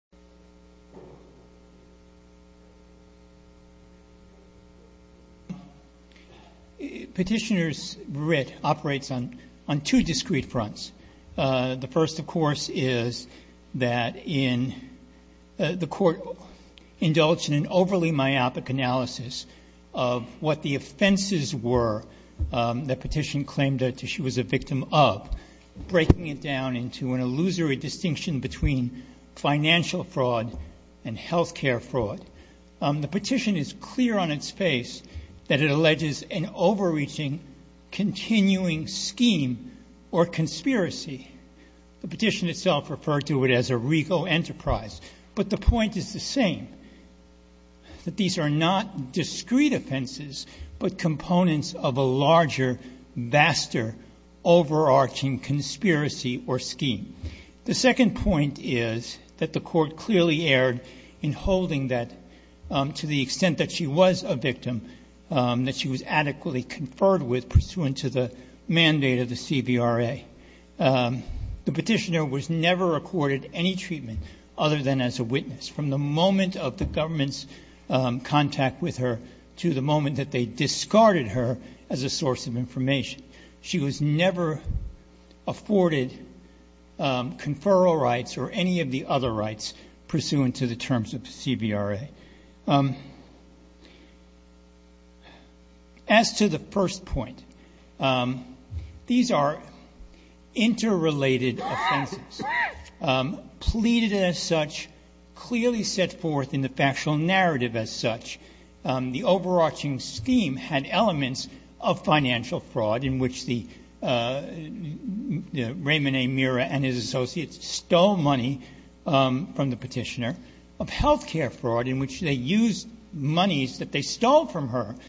Petitioner's writ operates on two discrete fronts. The first, of course, is that the court indulged in an overly myopic analysis of what the offenses were that petition claimed that she was a victim of, breaking it down into an illusory distinction between financial fraud and health care fraud. The petition is clear on its face that it alleges an overreaching, continuing scheme or conspiracy. The petition itself referred to it as a regal enterprise, but the point is the same, that these are not discrete offenses, but components of a larger, vaster, overarching conspiracy or scheme. The second point is that the court clearly erred in holding that, to the extent that she was a victim, that she was adequately conferred with pursuant to the mandate of the CVRA. The petitioner was never accorded any treatment other than as a witness, from the moment of the government's contact with her to the moment that they discarded her as a source of information. She was never afforded conferral rights or any of the other rights pursuant to the terms of the CVRA. As to the first point, these are interrelated offenses, pleaded as such, clearly set forth in the factual narrative as such. The overarching scheme had elements of financial fraud in which the Raymond A. Mirra and his associates stole money from the petitioner, of health care fraud in which they used monies that they stole from her.